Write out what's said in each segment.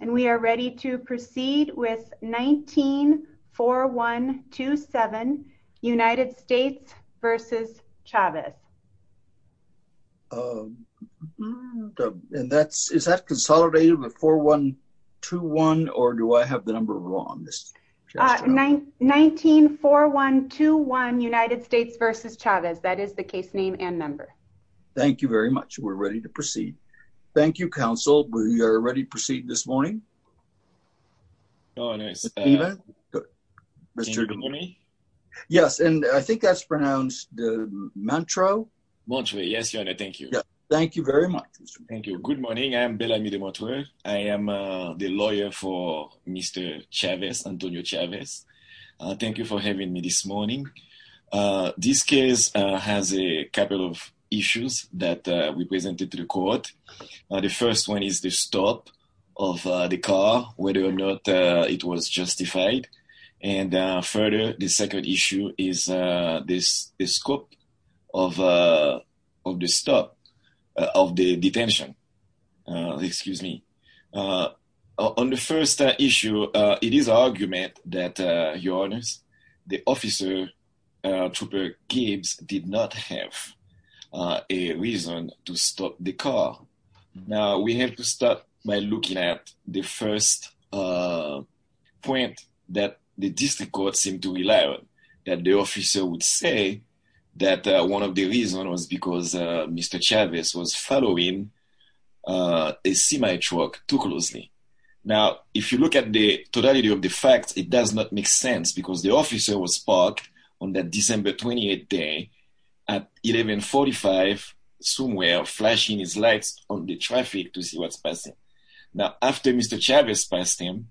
and we are ready to proceed with 19-4127 United States v. Chavez and that's is that consolidated with 4-1-2-1 or do I have the number wrong this 19-4-1-2-1 United States v. Chavez that is the case name and number thank you very much we're ready to proceed this morning yes and I think that's pronounced the Montreux Montreux yes your honor thank you thank you very much thank you good morning I am Bellamy de Montreux I am the lawyer for Mr. Chavez Antonio Chavez thank you for having me this morning this case has a couple of issues that we presented to the court the first one is the stop of the car whether or not it was justified and further the second issue is this the scope of of the stop of the detention excuse me on the first issue it is argument that your honors the officer trooper Gibbs did not have a reason to stop the car now we have to start by looking at the first point that the district court seemed to rely on that the officer would say that one of the reason was because Mr. Chavez was following a semi-truck too closely now if you look at the totality of the facts it does not make sense because the officer was parked on that December 28th day at 11 45 somewhere flashing his lights on the traffic to see what's passing now after Mr. Chavez passed him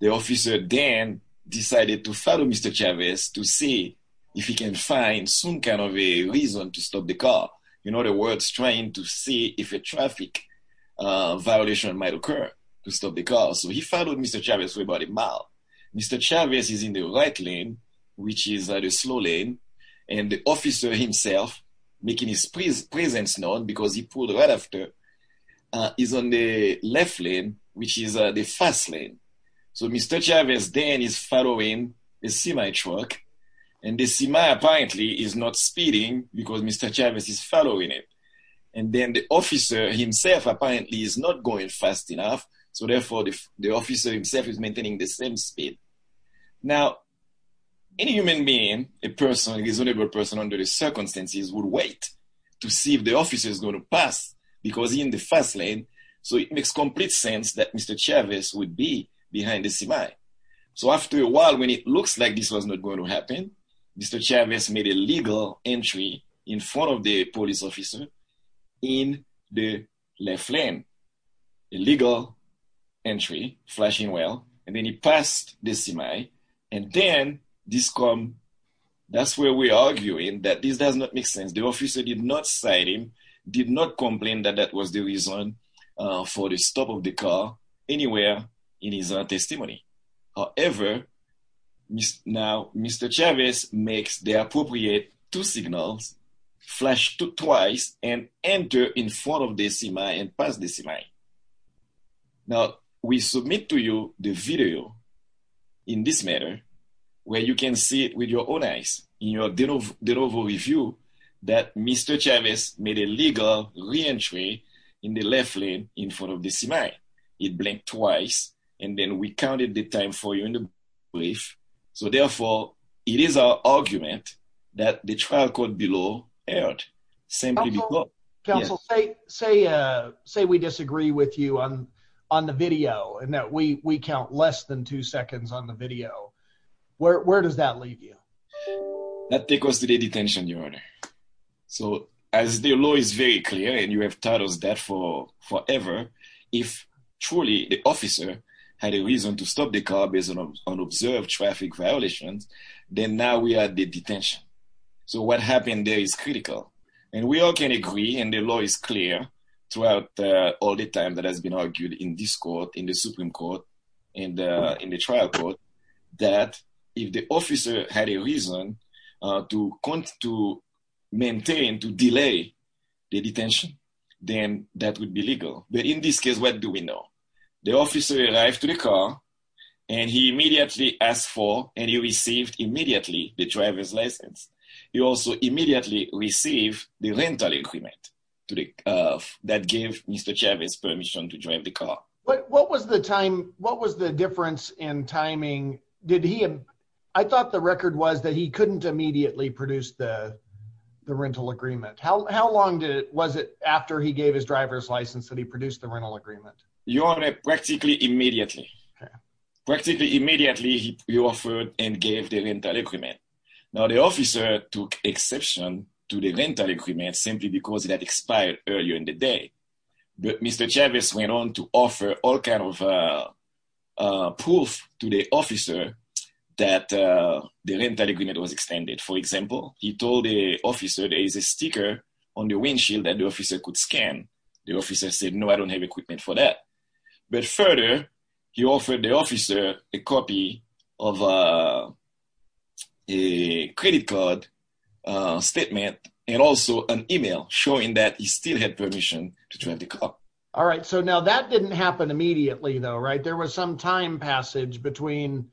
the officer then decided to follow Mr. Chavez to see if he can find some kind of a reason to stop the car in other words trying to see if a traffic violation might occur to stop the car so he followed Mr. Chavez for about a mile Mr. Chavez is in the right lane which is the slow lane and the officer himself making his presence known because he pulled right after is on the left lane which is the fast lane so Mr. Chavez then is following a semi-truck and the semi apparently is not speeding because Mr. Chavez is following him and then the officer himself apparently is not going fast enough so therefore the officer himself is maintaining the same speed now any human being a person is only a person under the circumstances would wait to see if the officer is going to pass because he in the fast lane so it makes complete sense that Mr. Chavez would be behind the semi so after a while when it looks like this was not going to happen Mr. Chavez made a legal entry in front of entry flashing well and then he passed the semi and then this come that's where we're arguing that this does not make sense the officer did not cite him did not complain that that was the reason for the stop of the car anywhere in his testimony however now Mr. Chavez makes the appropriate two signals flash twice and enter in front of the semi and pass the semi now we submit to you the video in this matter where you can see it with your own eyes in your de novo review that Mr. Chavez made a legal re-entry in the left lane in front of the semi it blinked twice and then we trial court below erred say we disagree with you on the video and that we count less than two seconds on the video where does that leave you that take us to the detention your honor so as the law is very clear and you have taught us that for forever if truly the officer had a reason to so what happened there is critical and we all can agree and the law is clear throughout all the time that has been argued in this court in the supreme court and in the trial court that if the officer had a reason to count to maintain to delay the detention then that would be legal but in this case what do we know the officer arrived to the car and he immediately asked for and he received immediately the driver's license he also immediately received the rental agreement to the uh that gave Mr. Chavez permission to drive the car but what was the time what was the difference in timing did he i thought the record was that he couldn't immediately produce the the rental agreement how how long did it was it after he gave his driver's license that he produced the rental agreement you are practically immediately practically immediately he offered and gave the rental agreement now the officer took exception to the rental agreement simply because it had expired earlier in the day but Mr. Chavez went on to offer all kind of uh uh proof to the officer that uh the rental agreement was extended for example he told the officer there is a sticker on the windshield that the officer could scan the officer said no i don't have that but further he offered the officer a copy of uh a credit card uh statement and also an email showing that he still had permission to drive the car all right so now that didn't happen immediately though right there was some time passage between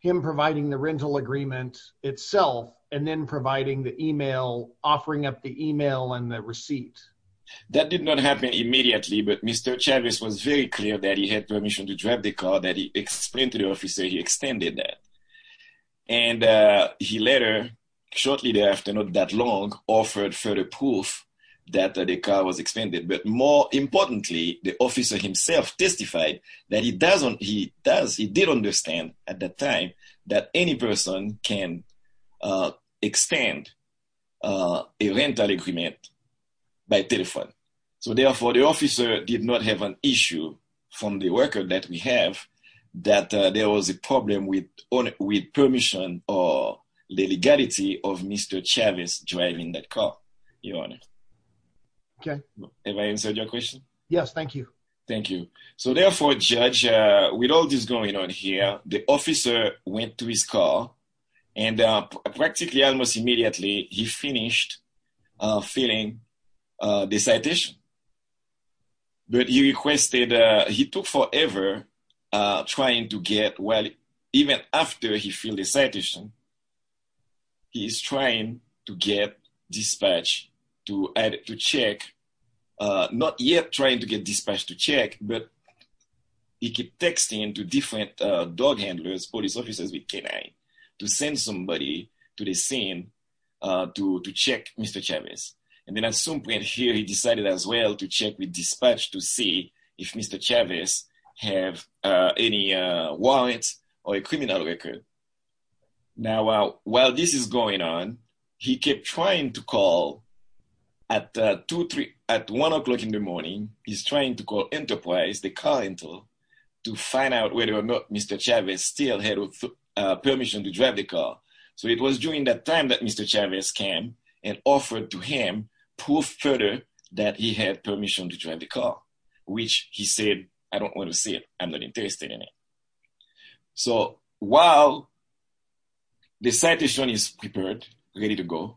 him providing the rental agreement itself and then providing the email offering up the email and the receipt that did not happen immediately but Mr. Chavez was very clear that he had permission to drive the car that he explained to the officer he extended that and uh he later shortly thereafter not that long offered further proof that the car was expanded but more importantly the officer himself testified that he doesn't he does he did understand at the time that any person can uh extend uh a rental agreement by telephone so therefore the officer did not have an issue from the worker that we have that there was a problem with on with permission or the legality of Mr. Chavez driving that car your honor okay have i answered your question yes thank you thank you so therefore judge uh with all this going on here the officer went to his car and uh practically almost immediately he uh filling uh the citation but he requested uh he took forever uh trying to get well even after he filled the citation he is trying to get dispatch to add to check uh not yet trying to get dispatched to check but he kept texting to different uh dog handlers police officers with canine to send somebody to the scene uh to to check Mr. Chavez and then at some point here he decided as well to check with dispatch to see if Mr. Chavez have uh any uh warrants or a criminal record now while this is going on he kept trying to call at two three at one o'clock in the morning he's trying to call enterprise the car rental to find out whether or not Mr. Chavez still had permission to drive the car so it was during that time that Mr. Chavez came and offered to him proof further that he had permission to drive the car which he said i don't want to see it i'm not interested in it so while the citation is prepared ready to go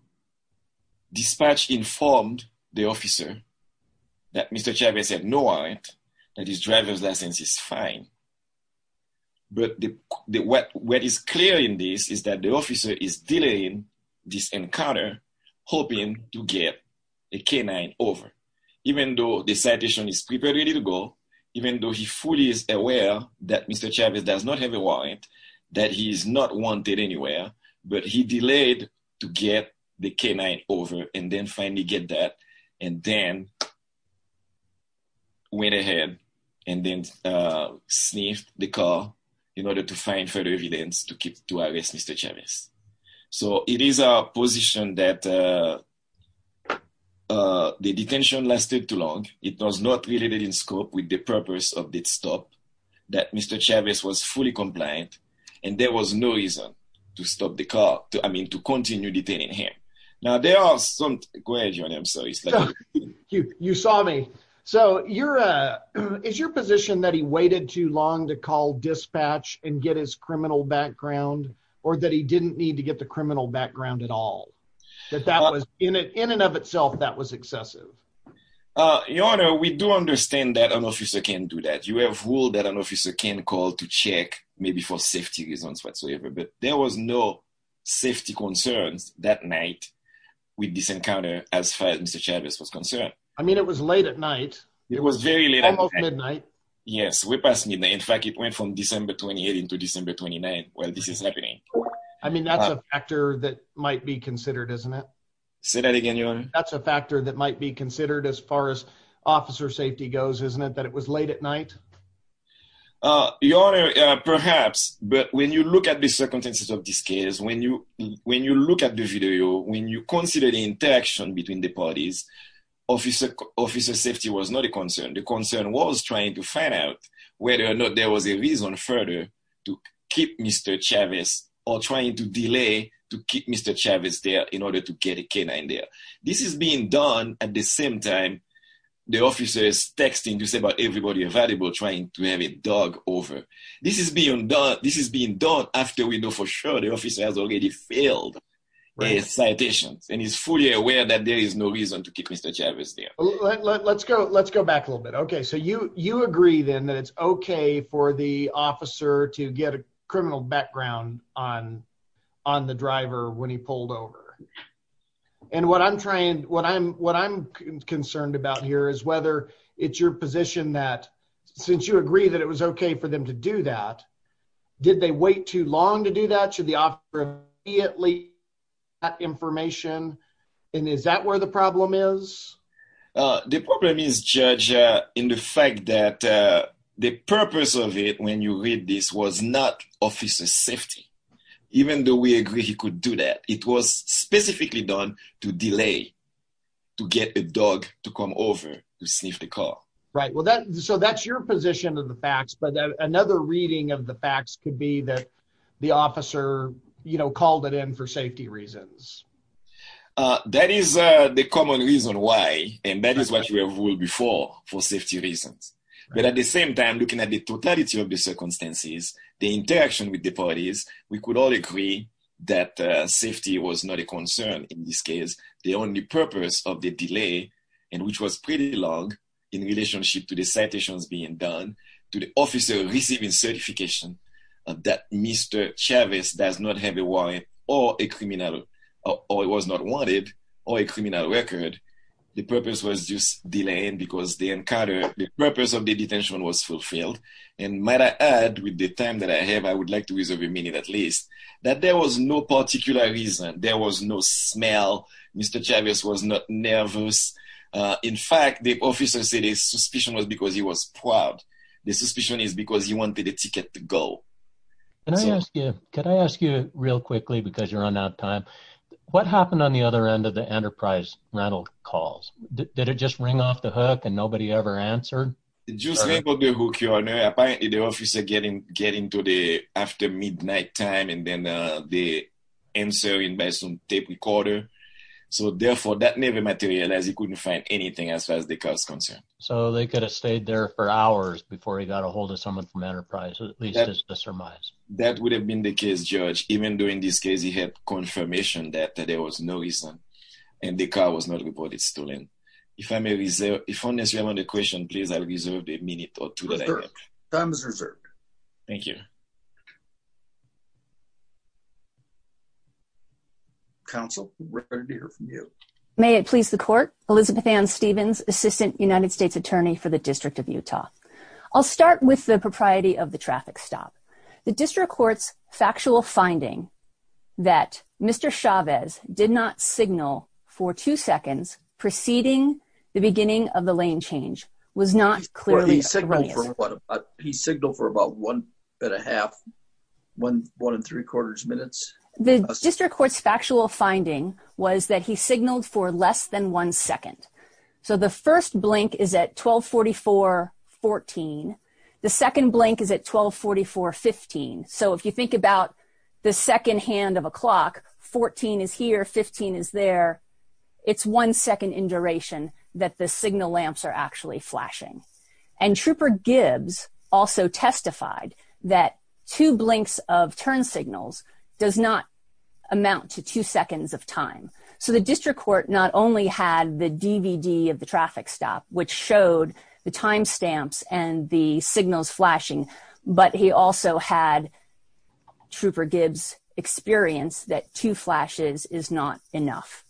dispatch informed the officer that Mr. what is clear in this is that the officer is delaying this encounter hoping to get a canine over even though the citation is prepared ready to go even though he fully is aware that Mr. Chavez does not have a warrant that he is not wanted anywhere but he delayed to get the canine over and then finally get that and then went ahead and then uh sniffed the car in order to find further evidence to keep to arrest Mr. Chavez so it is a position that uh uh the detention lasted too long it was not related in scope with the purpose of this stop that Mr. Chavez was fully compliant and there was no reason to stop the car to i mean to continue detaining him now there are some questions i'm sorry you you saw me so you're uh is your position that he waited too long to call dispatch and get his criminal background or that he didn't need to get the criminal background at all that that was in it in and of itself that was excessive uh your honor we do understand that an officer can do that you have ruled that an officer can call to check maybe for safety reasons whatsoever but there was no safety concerns that night with this encounter as far as Mr. Chavez was concerned i mean it was late at night it was midnight yes we're past midnight in fact it went from December 28th into December 29th while this is happening i mean that's a factor that might be considered isn't it say that again your honor that's a factor that might be considered as far as officer safety goes isn't it that it was late at night uh your honor perhaps but when you look at the circumstances of this case when you when you look at the video when you consider the interaction between the parties officer officer safety was not a concern the concern was trying to find out whether or not there was a reason further to keep Mr. Chavez or trying to delay to keep Mr. Chavez there in order to get a canine there this is being done at the same time the officer is texting to say about everybody available trying to have a dog over this is being done this is being done after we know for sure the officer has already failed his citations and he's fully aware that there is no reason to keep Mr. Chavez there let's go let's go back a little bit okay so you you agree then that it's okay for the officer to get a criminal background on on the driver when he pulled over and what i'm trying what i'm what i'm concerned about here is whether it's your position that since you agree that it was okay for them to do that did they wait too long to do that should the offer be at least that information and is that where the problem is the problem is judge uh in the fact that uh the purpose of it when you read this was not officer safety even though we agree he could do that it was specifically done to delay to get a dog to come over to sniff the position of the facts but another reading of the facts could be that the officer you know called it in for safety reasons uh that is uh the common reason why and that is what you have ruled before for safety reasons but at the same time looking at the totality of the circumstances the interaction with the parties we could all agree that safety was not a concern in this case the only purpose of the delay and which was pretty long in relationship to the citations being done to the officer receiving certification of that mr chavis does not have a warrant or a criminal or it was not wanted or a criminal record the purpose was just delaying because they encountered the purpose of the detention was fulfilled and might i add with the time that i have i would like to nervous uh in fact the officer said his suspicion was because he was proud the suspicion is because he wanted a ticket to go and i ask you could i ask you real quickly because you're on out time what happened on the other end of the enterprise rattle calls did it just ring off the hook and nobody ever answered just about the hook your honor apparently the officer getting getting to the after midnight time and then uh the answering by some tape recorder so therefore that never materialized he couldn't find anything as far as the car is concerned so they could have stayed there for hours before he got a hold of someone from enterprise at least to surmise that would have been the case judge even though in this case he had confirmation that there was no reason and the car was not reported stolen if i may reserve if i'm necessary on the question please i'll reserve a minute or two time is reserved thank you counsel may it please the court elizabeth ann stevens assistant united states attorney for the district of utah i'll start with the propriety of the traffic stop the district court's factual finding that mr chavez did not signal for two seconds preceding the beginning of the lane change was not clearly he signaled for about one and a half one one and three quarters minutes the district court's factual finding was that he signaled for less than one second so the first blank is at 12 44 14 the second blank is at 12 44 15 so if you think about the second hand of it's one second in duration that the signal lamps are actually flashing and trooper gibbs also testified that two blinks of turn signals does not amount to two seconds of time so the district court not only had the dvd of the traffic stop which showed the time stamps and the signals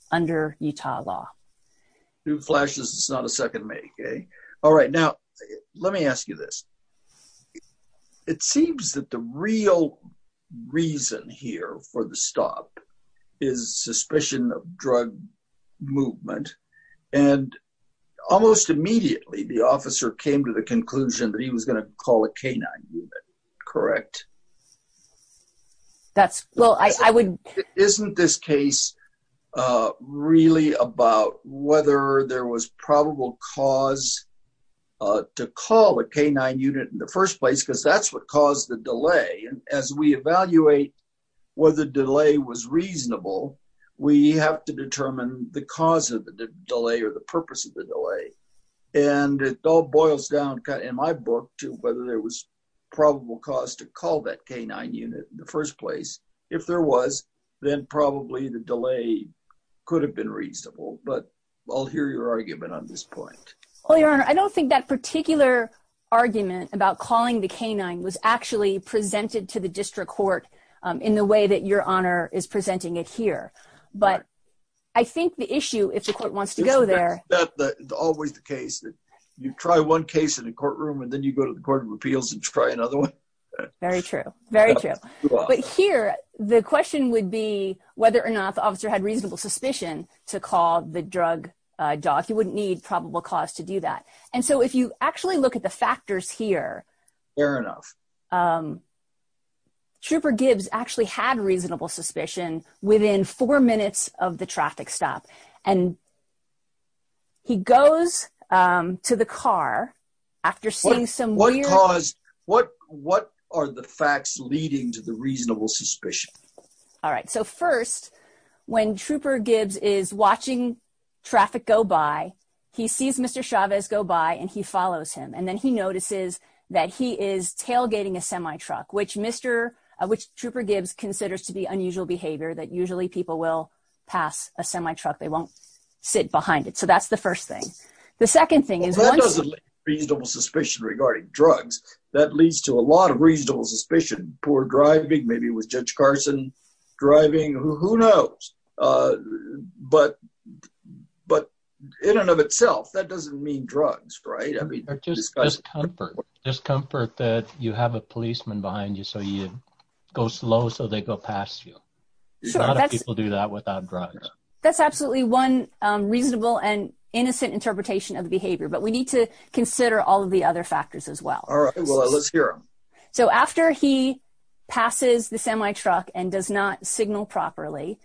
under utah law who flashes it's not a second make okay all right now let me ask you this it seems that the real reason here for the stop is suspicion of drug movement and almost immediately the officer came to the conclusion that he was going to call a canine correct that's well i i wouldn't isn't this case uh really about whether there was probable cause uh to call a canine unit in the first place because that's what caused the delay and as we evaluate whether delay was reasonable we have to determine the cause of the delay or the purpose of the delay and it all boils down in my book to whether there was probable cause to call that canine unit in the first place if there was then probably the delay could have been reasonable but i'll hear your argument on this point well your honor i don't think that particular argument about calling the canine was actually presented to the district court in the way that your honor is presenting it here but i think the issue if the court wants to go there that's always the case that you try one case in the courtroom and then you go to the court of appeals and try another one very true very true but here the question would be whether or not the officer had reasonable suspicion to call the drug doc you wouldn't need probable cause to do that and so if you actually look at the factors here fair enough um trooper gibbs actually had reasonable suspicion within four minutes of the traffic stop and he goes um to the car after seeing some what cause what what are the facts leading to the reasonable suspicion all right so first when trooper gibbs is watching traffic go by he sees mr chavez go by and he considers to be unusual behavior that usually people will pass a semi-truck they won't sit behind it so that's the first thing the second thing is that doesn't make reasonable suspicion regarding drugs that leads to a lot of reasonable suspicion poor driving maybe with judge carson driving who knows uh but but in and of itself that doesn't mean drugs right i mean just discomfort discomfort that you have a policeman behind you so you go slow so they go past you a lot of people do that without drugs that's absolutely one um reasonable and innocent interpretation of the behavior but we need to consider all of the other factors as well all right well let's hear so after he passes the semi-truck and does not signal properly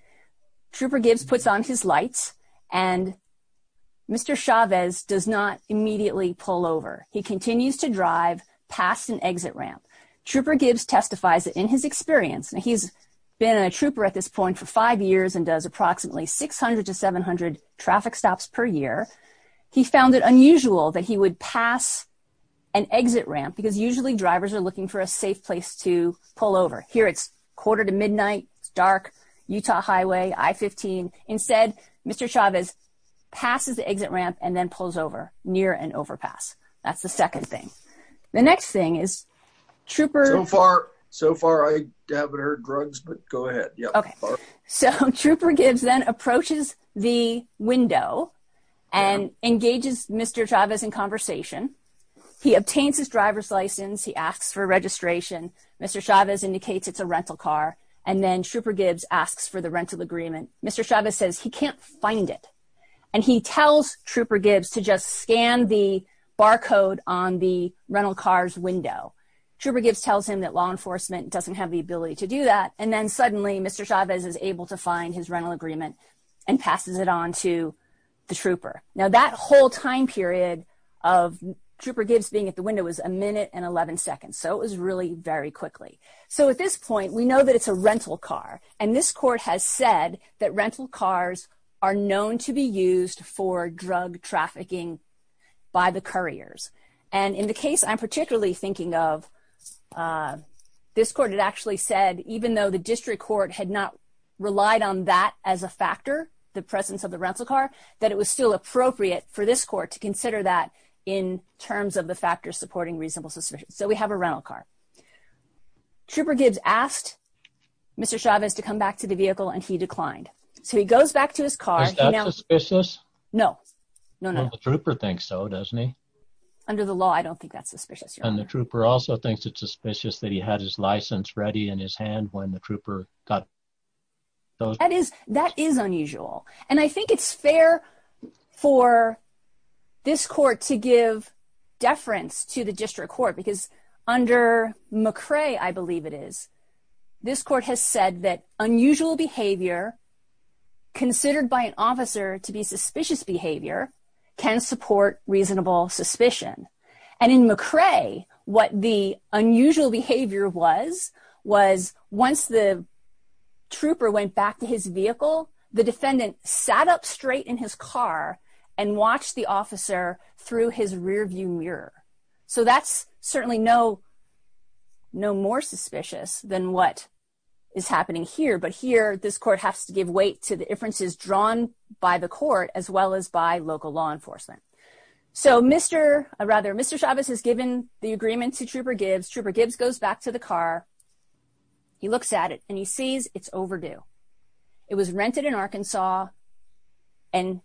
trooper gibbs puts on his lights and mr chavez does not immediately pull over he continues to drive past an exit ramp trooper gibbs testifies that in his experience now he's been a trooper at this point for five years and does approximately 600 to 700 traffic stops per year he found it unusual that he would pass an exit ramp because usually drivers are looking for a safe place to pull over here it's quarter to midnight it's dark utah highway i-15 instead mr chavez passes the exit ramp and then pulls over near an overpass that's the second thing the next thing is trooper so far so far i haven't heard drugs but go ahead okay so trooper gibbs then approaches the window and engages mr chavez in conversation he obtains his driver's license he asks for registration mr chavez indicates it's a rental car and then trooper gibbs asks for the rental agreement mr chavez says he can't find it and he tells trooper gibbs to just scan the barcode on the rental car's window trooper gibbs tells him that law enforcement doesn't have the ability to do that and then suddenly mr chavez is able to find his rental agreement and passes it on to the trooper now that whole time period of trooper gibbs being at the window was a minute and 11 seconds so it was really very quickly so at this point we know that it's a rental car and this court has said that rental cars are known to be used for drug trafficking by the couriers and in the case i'm particularly thinking of uh this court had actually said even though the district court had not relied on that as a factor the presence of the rental car that it was still appropriate for this court to consider that in terms of the factors supporting reasonable suspicion so we have a rental car trooper gibbs asked mr chavez to come back to the vehicle and he declined so he goes back to his car no no no the trooper thinks so doesn't he under the law i don't think that's suspicious and the trooper also thinks it's suspicious that he had his license ready in his hand when the trooper got those that is that is unusual and i think it's fair for this court to give deference to the district court because under mccray i believe it is this court has said that unusual behavior considered by an officer to be suspicious behavior can support reasonable suspicion and in mccray what the unusual behavior was was once the trooper went back to his vehicle the defendant sat up straight in his car and watched the officer through his rear view mirror so that's certainly no no more suspicious than what is happening here but here this court has to give weight to the differences drawn by the court as well as by local law enforcement so mr rather mr chavez has given the agreement to trooper gibbs trooper gibbs goes back to the car he looks at it and he sees it's overdue it was rented in arkansas and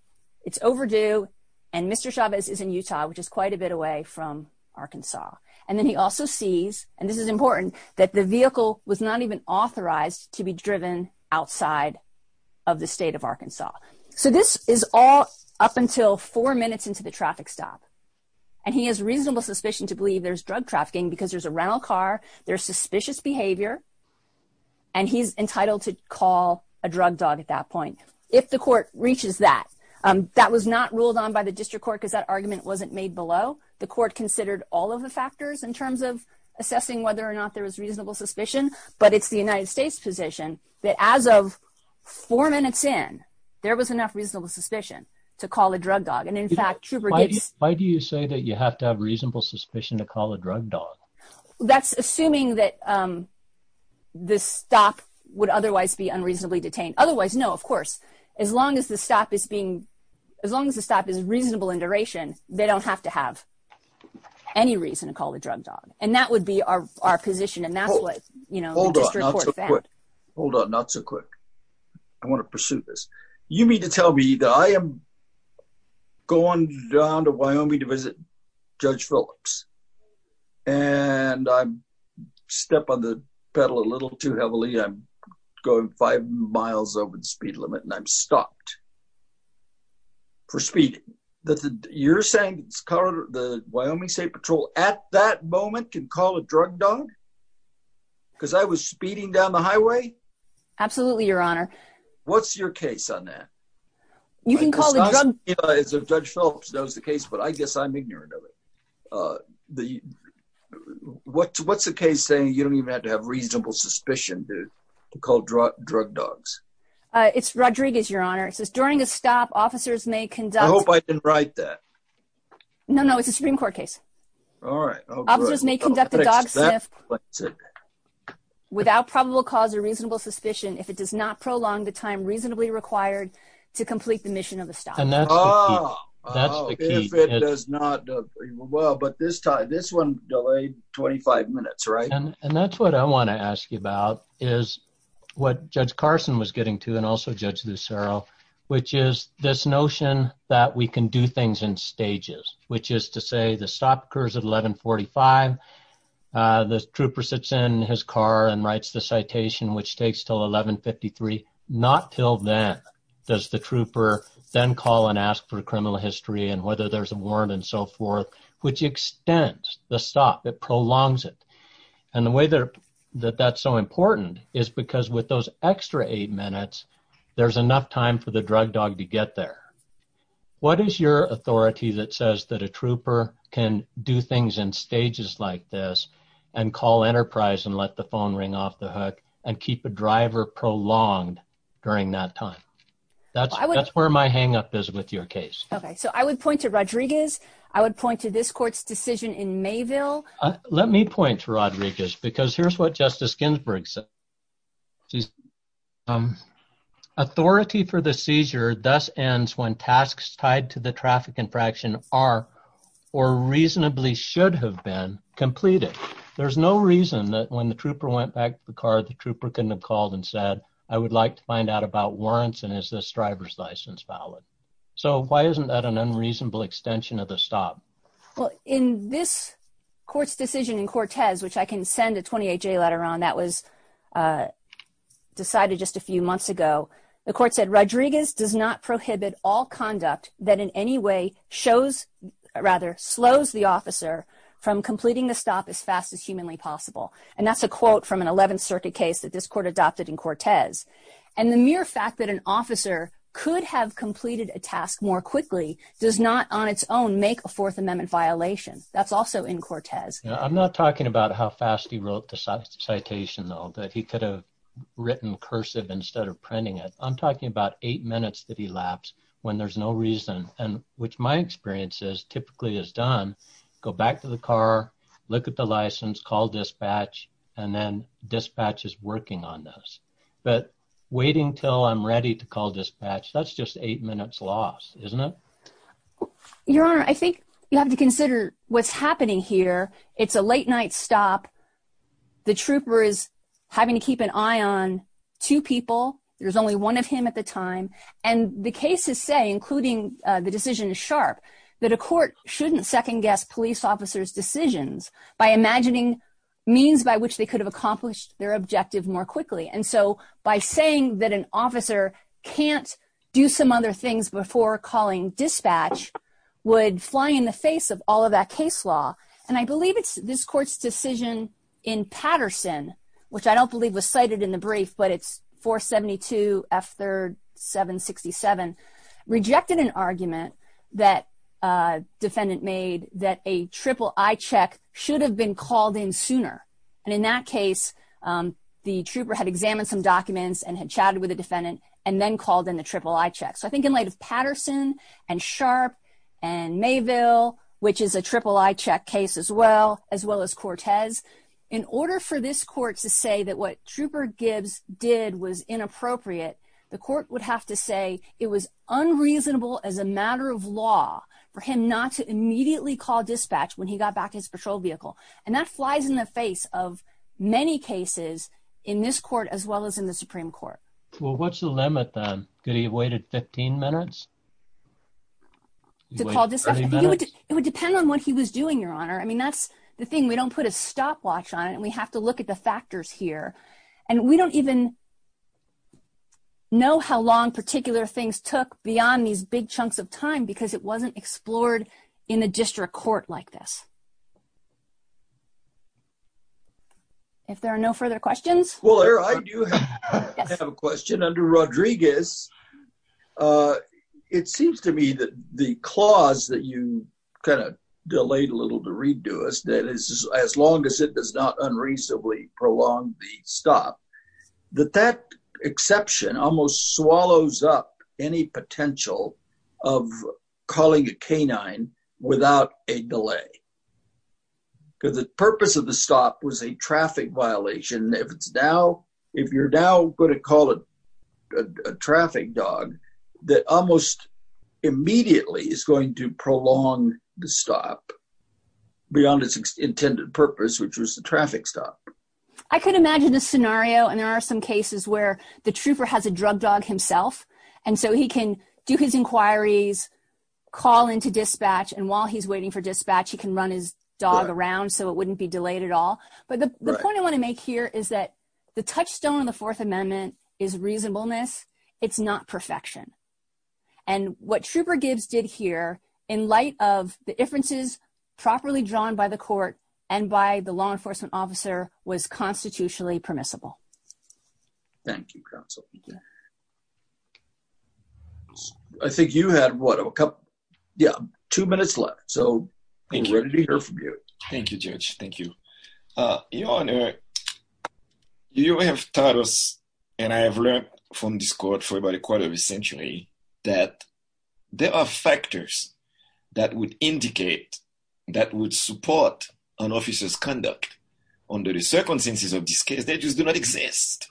it's overdue and mr chavez is in utah which is quite a bit away from arkansas and then he also sees and this is important that the vehicle was not even authorized to be driven outside of the state of arkansas so this is all up until four minutes into the traffic stop and he has reasonable suspicion to believe there's drug trafficking because there's a rental car there's suspicious behavior and he's entitled to call a drug dog at that point if the court reaches that um that was not ruled on by the district court because that argument wasn't made below the court considered all of the factors in terms of assessing whether or not there was reasonable suspicion but it's the united states position that as of four minutes in there was enough reasonable suspicion to call a drug dog and in fact trooper gibbs why do you say that you have to have reasonable suspicion to call a drug dog that's assuming that um this stop would otherwise be unreasonably detained otherwise no of course as long as the stop is being as long as the stop is reasonable in duration they don't have to have any reason to call the drug dog and that would be our our position and that's what you know hold on not so quick hold on not so quick i want to pursue this you mean to tell me that i am going down to wyoming to visit judge phillips and i step on the pedal a little too heavily i'm going five miles over the speed limit and i'm stopped for speeding that you're saying the wyoming state patrol at that moment can call a drug dog because i was speeding down the highway absolutely your honor what's your case on that you can call the judge phillips knows the case but i guess i'm ignorant of it uh the what's what's the case saying you don't even have to have reasonable suspicion to to call drug drug dogs uh it's rodriguez your honor says during a stop officers may conduct i hope i didn't write that no no it's a supreme court case all right officers may conduct a dog without probable cause or reasonable suspicion if it does not prolong the time reasonably required to complete the mission of the stop and that's that's the key it does not well but this time this one delayed 25 minutes right and that's what i was getting to and also judge lucero which is this notion that we can do things in stages which is to say the stop occurs at 11 45 uh the trooper sits in his car and writes the citation which takes till 11 53 not till then does the trooper then call and ask for criminal history and whether there's a warrant and so forth which extends the stop it prolongs it and the way that that's so important is because with those extra eight minutes there's enough time for the drug dog to get there what is your authority that says that a trooper can do things in stages like this and call enterprise and let the phone ring off the hook and keep a driver prolonged during that time that's that's where my hang up is with your case okay so i would point to rodriguez i would point to this court's decision in mayville let me point to rodriguez because here's what justice ginsburg said she's um authority for the seizure thus ends when tasks tied to the traffic infraction are or reasonably should have been completed there's no reason that when the trooper went back to the car the trooper couldn't have called and said i would like to find out about warrants and is this driver's license valid so why isn't that an unreasonable extension of the stop well in this court's decision in cortez which i can send a 28 j later on that was uh decided just a few months ago the court said rodriguez does not prohibit all conduct that in any way shows rather slows the officer from completing the stop as fast as humanly possible and that's a quote from an 11th circuit case that this court adopted in cortez and the mere fact that an officer could have that's also in cortez i'm not talking about how fast he wrote the citation though that he could have written cursive instead of printing it i'm talking about eight minutes that he lapsed when there's no reason and which my experience is typically is done go back to the car look at the license call dispatch and then dispatch is working on this but waiting till i'm ready to what's happening here it's a late night stop the trooper is having to keep an eye on two people there's only one of him at the time and the cases say including the decision is sharp that a court shouldn't second guess police officers decisions by imagining means by which they could have accomplished their objective more quickly and so by saying that an officer can't do some other things before calling dispatch would fly in the face of all of that case law and i believe it's this court's decision in patterson which i don't believe was cited in the brief but it's 472 f 3rd 767 rejected an argument that uh defendant made that a triple eye check should have been called in sooner and in that case um the trooper had examined some documents and had chatted with the defendant and then called in the triple eye check so i think in light of patterson and sharp and mayville which is a triple eye check case as well as well as cortez in order for this court to say that what trooper gibbs did was inappropriate the court would have to say it was unreasonable as a matter of law for him not to immediately call dispatch when he got back his patrol vehicle and that flies in the face of many cases in this court as well as in the supreme court well what's the limit then could he have waited 15 minutes it would depend on what he was doing your honor i mean that's the thing we don't put a stopwatch on it and we have to look at the factors here and we don't even know how long particular things took beyond these big chunks of time because it wasn't explored in the district court like this if there are no further questions well i do have a question under rodriguez uh it seems to me that the clause that you kind of delayed a little to read to us that is as long as it does not unreasonably prolong the stop that that exception almost swallows up any potential of calling a canine without a delay because the purpose of the stop was a traffic violation if it's now if you're now going to call it a traffic dog that almost immediately is going to prolong the stop beyond its intended purpose which was the traffic stop i could imagine a scenario and there are some cases where the trooper has a drug dog himself and so he can do his inquiries call into dispatch and while he's waiting for dispatch he can run his dog around so it wouldn't be delayed at all but the point i want to make here is that the touchstone of the fourth amendment is reasonableness it's not perfection and what trooper gibbs did here in light of the differences properly drawn by the court and by the law was constitutionally permissible thank you counsel i think you had what a couple yeah two minutes left so i'm ready to hear from you thank you judge thank you uh your honor you have taught us and i have learned from this court for about a quarter of a century that there are factors that would indicate that would support an officer's under the circumstances of this case they just do not exist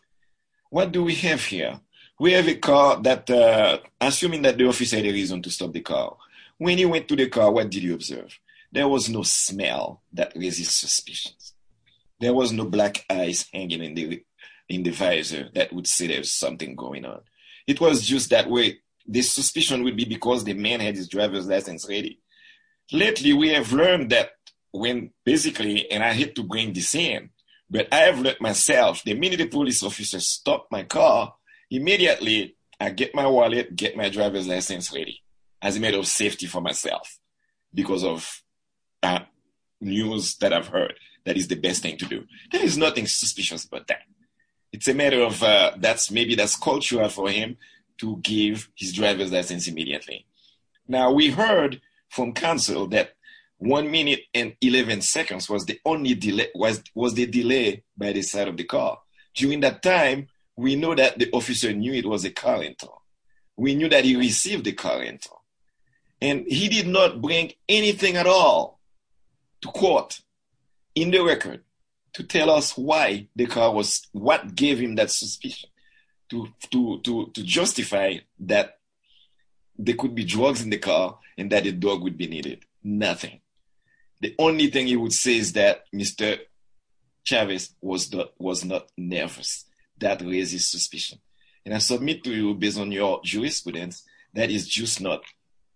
what do we have here we have a car that uh assuming that the officer had a reason to stop the car when he went to the car what did you observe there was no smell that raises suspicions there was no black eyes hanging in the in the visor that would say there's something going on it was just that way this suspicion would be because the man had his driver's license ready lately we have learned that when basically and i hate to bring this in but i have let myself the minute the police officer stopped my car immediately i get my wallet get my driver's license ready as a matter of safety for myself because of news that i've heard that is the best thing to do there is nothing suspicious about that it's a matter of uh that's maybe that's for him to give his driver's license immediately now we heard from counsel that one minute and 11 seconds was the only delay was was the delay by the side of the car during that time we know that the officer knew it was a car rental we knew that he received the car rental and he did not bring anything at all to quote in the record to tell us why the car was what gave him that suspicion to to to to justify that there could be drugs in the car and that a dog would be needed nothing the only thing he would say is that mr chavis was that was not nervous that raises suspicion and i submit to you based on your jurisprudence that is just not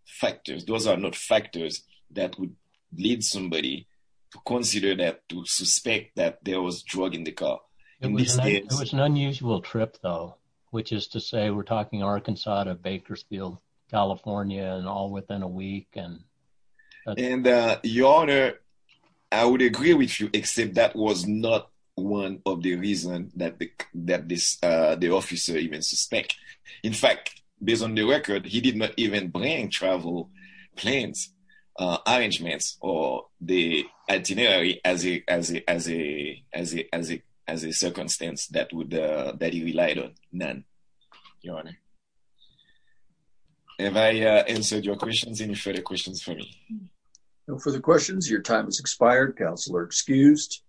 factors those are not factors that would lead somebody to consider that to suspect that there was drug in the car it was an unusual trip though which is to say we're talking arkansas to bakersfield california and all within a week and and uh your honor i would agree with you except that was not one of the reason that that this uh the officer even suspect in fact based on the record he did not even bring travel plans arrangements or the itinerary as a as a as a as a as a as a circumstance that would uh that he relied on none your honor have i uh answered your questions any further questions for me no further questions your time has expired counsel are excused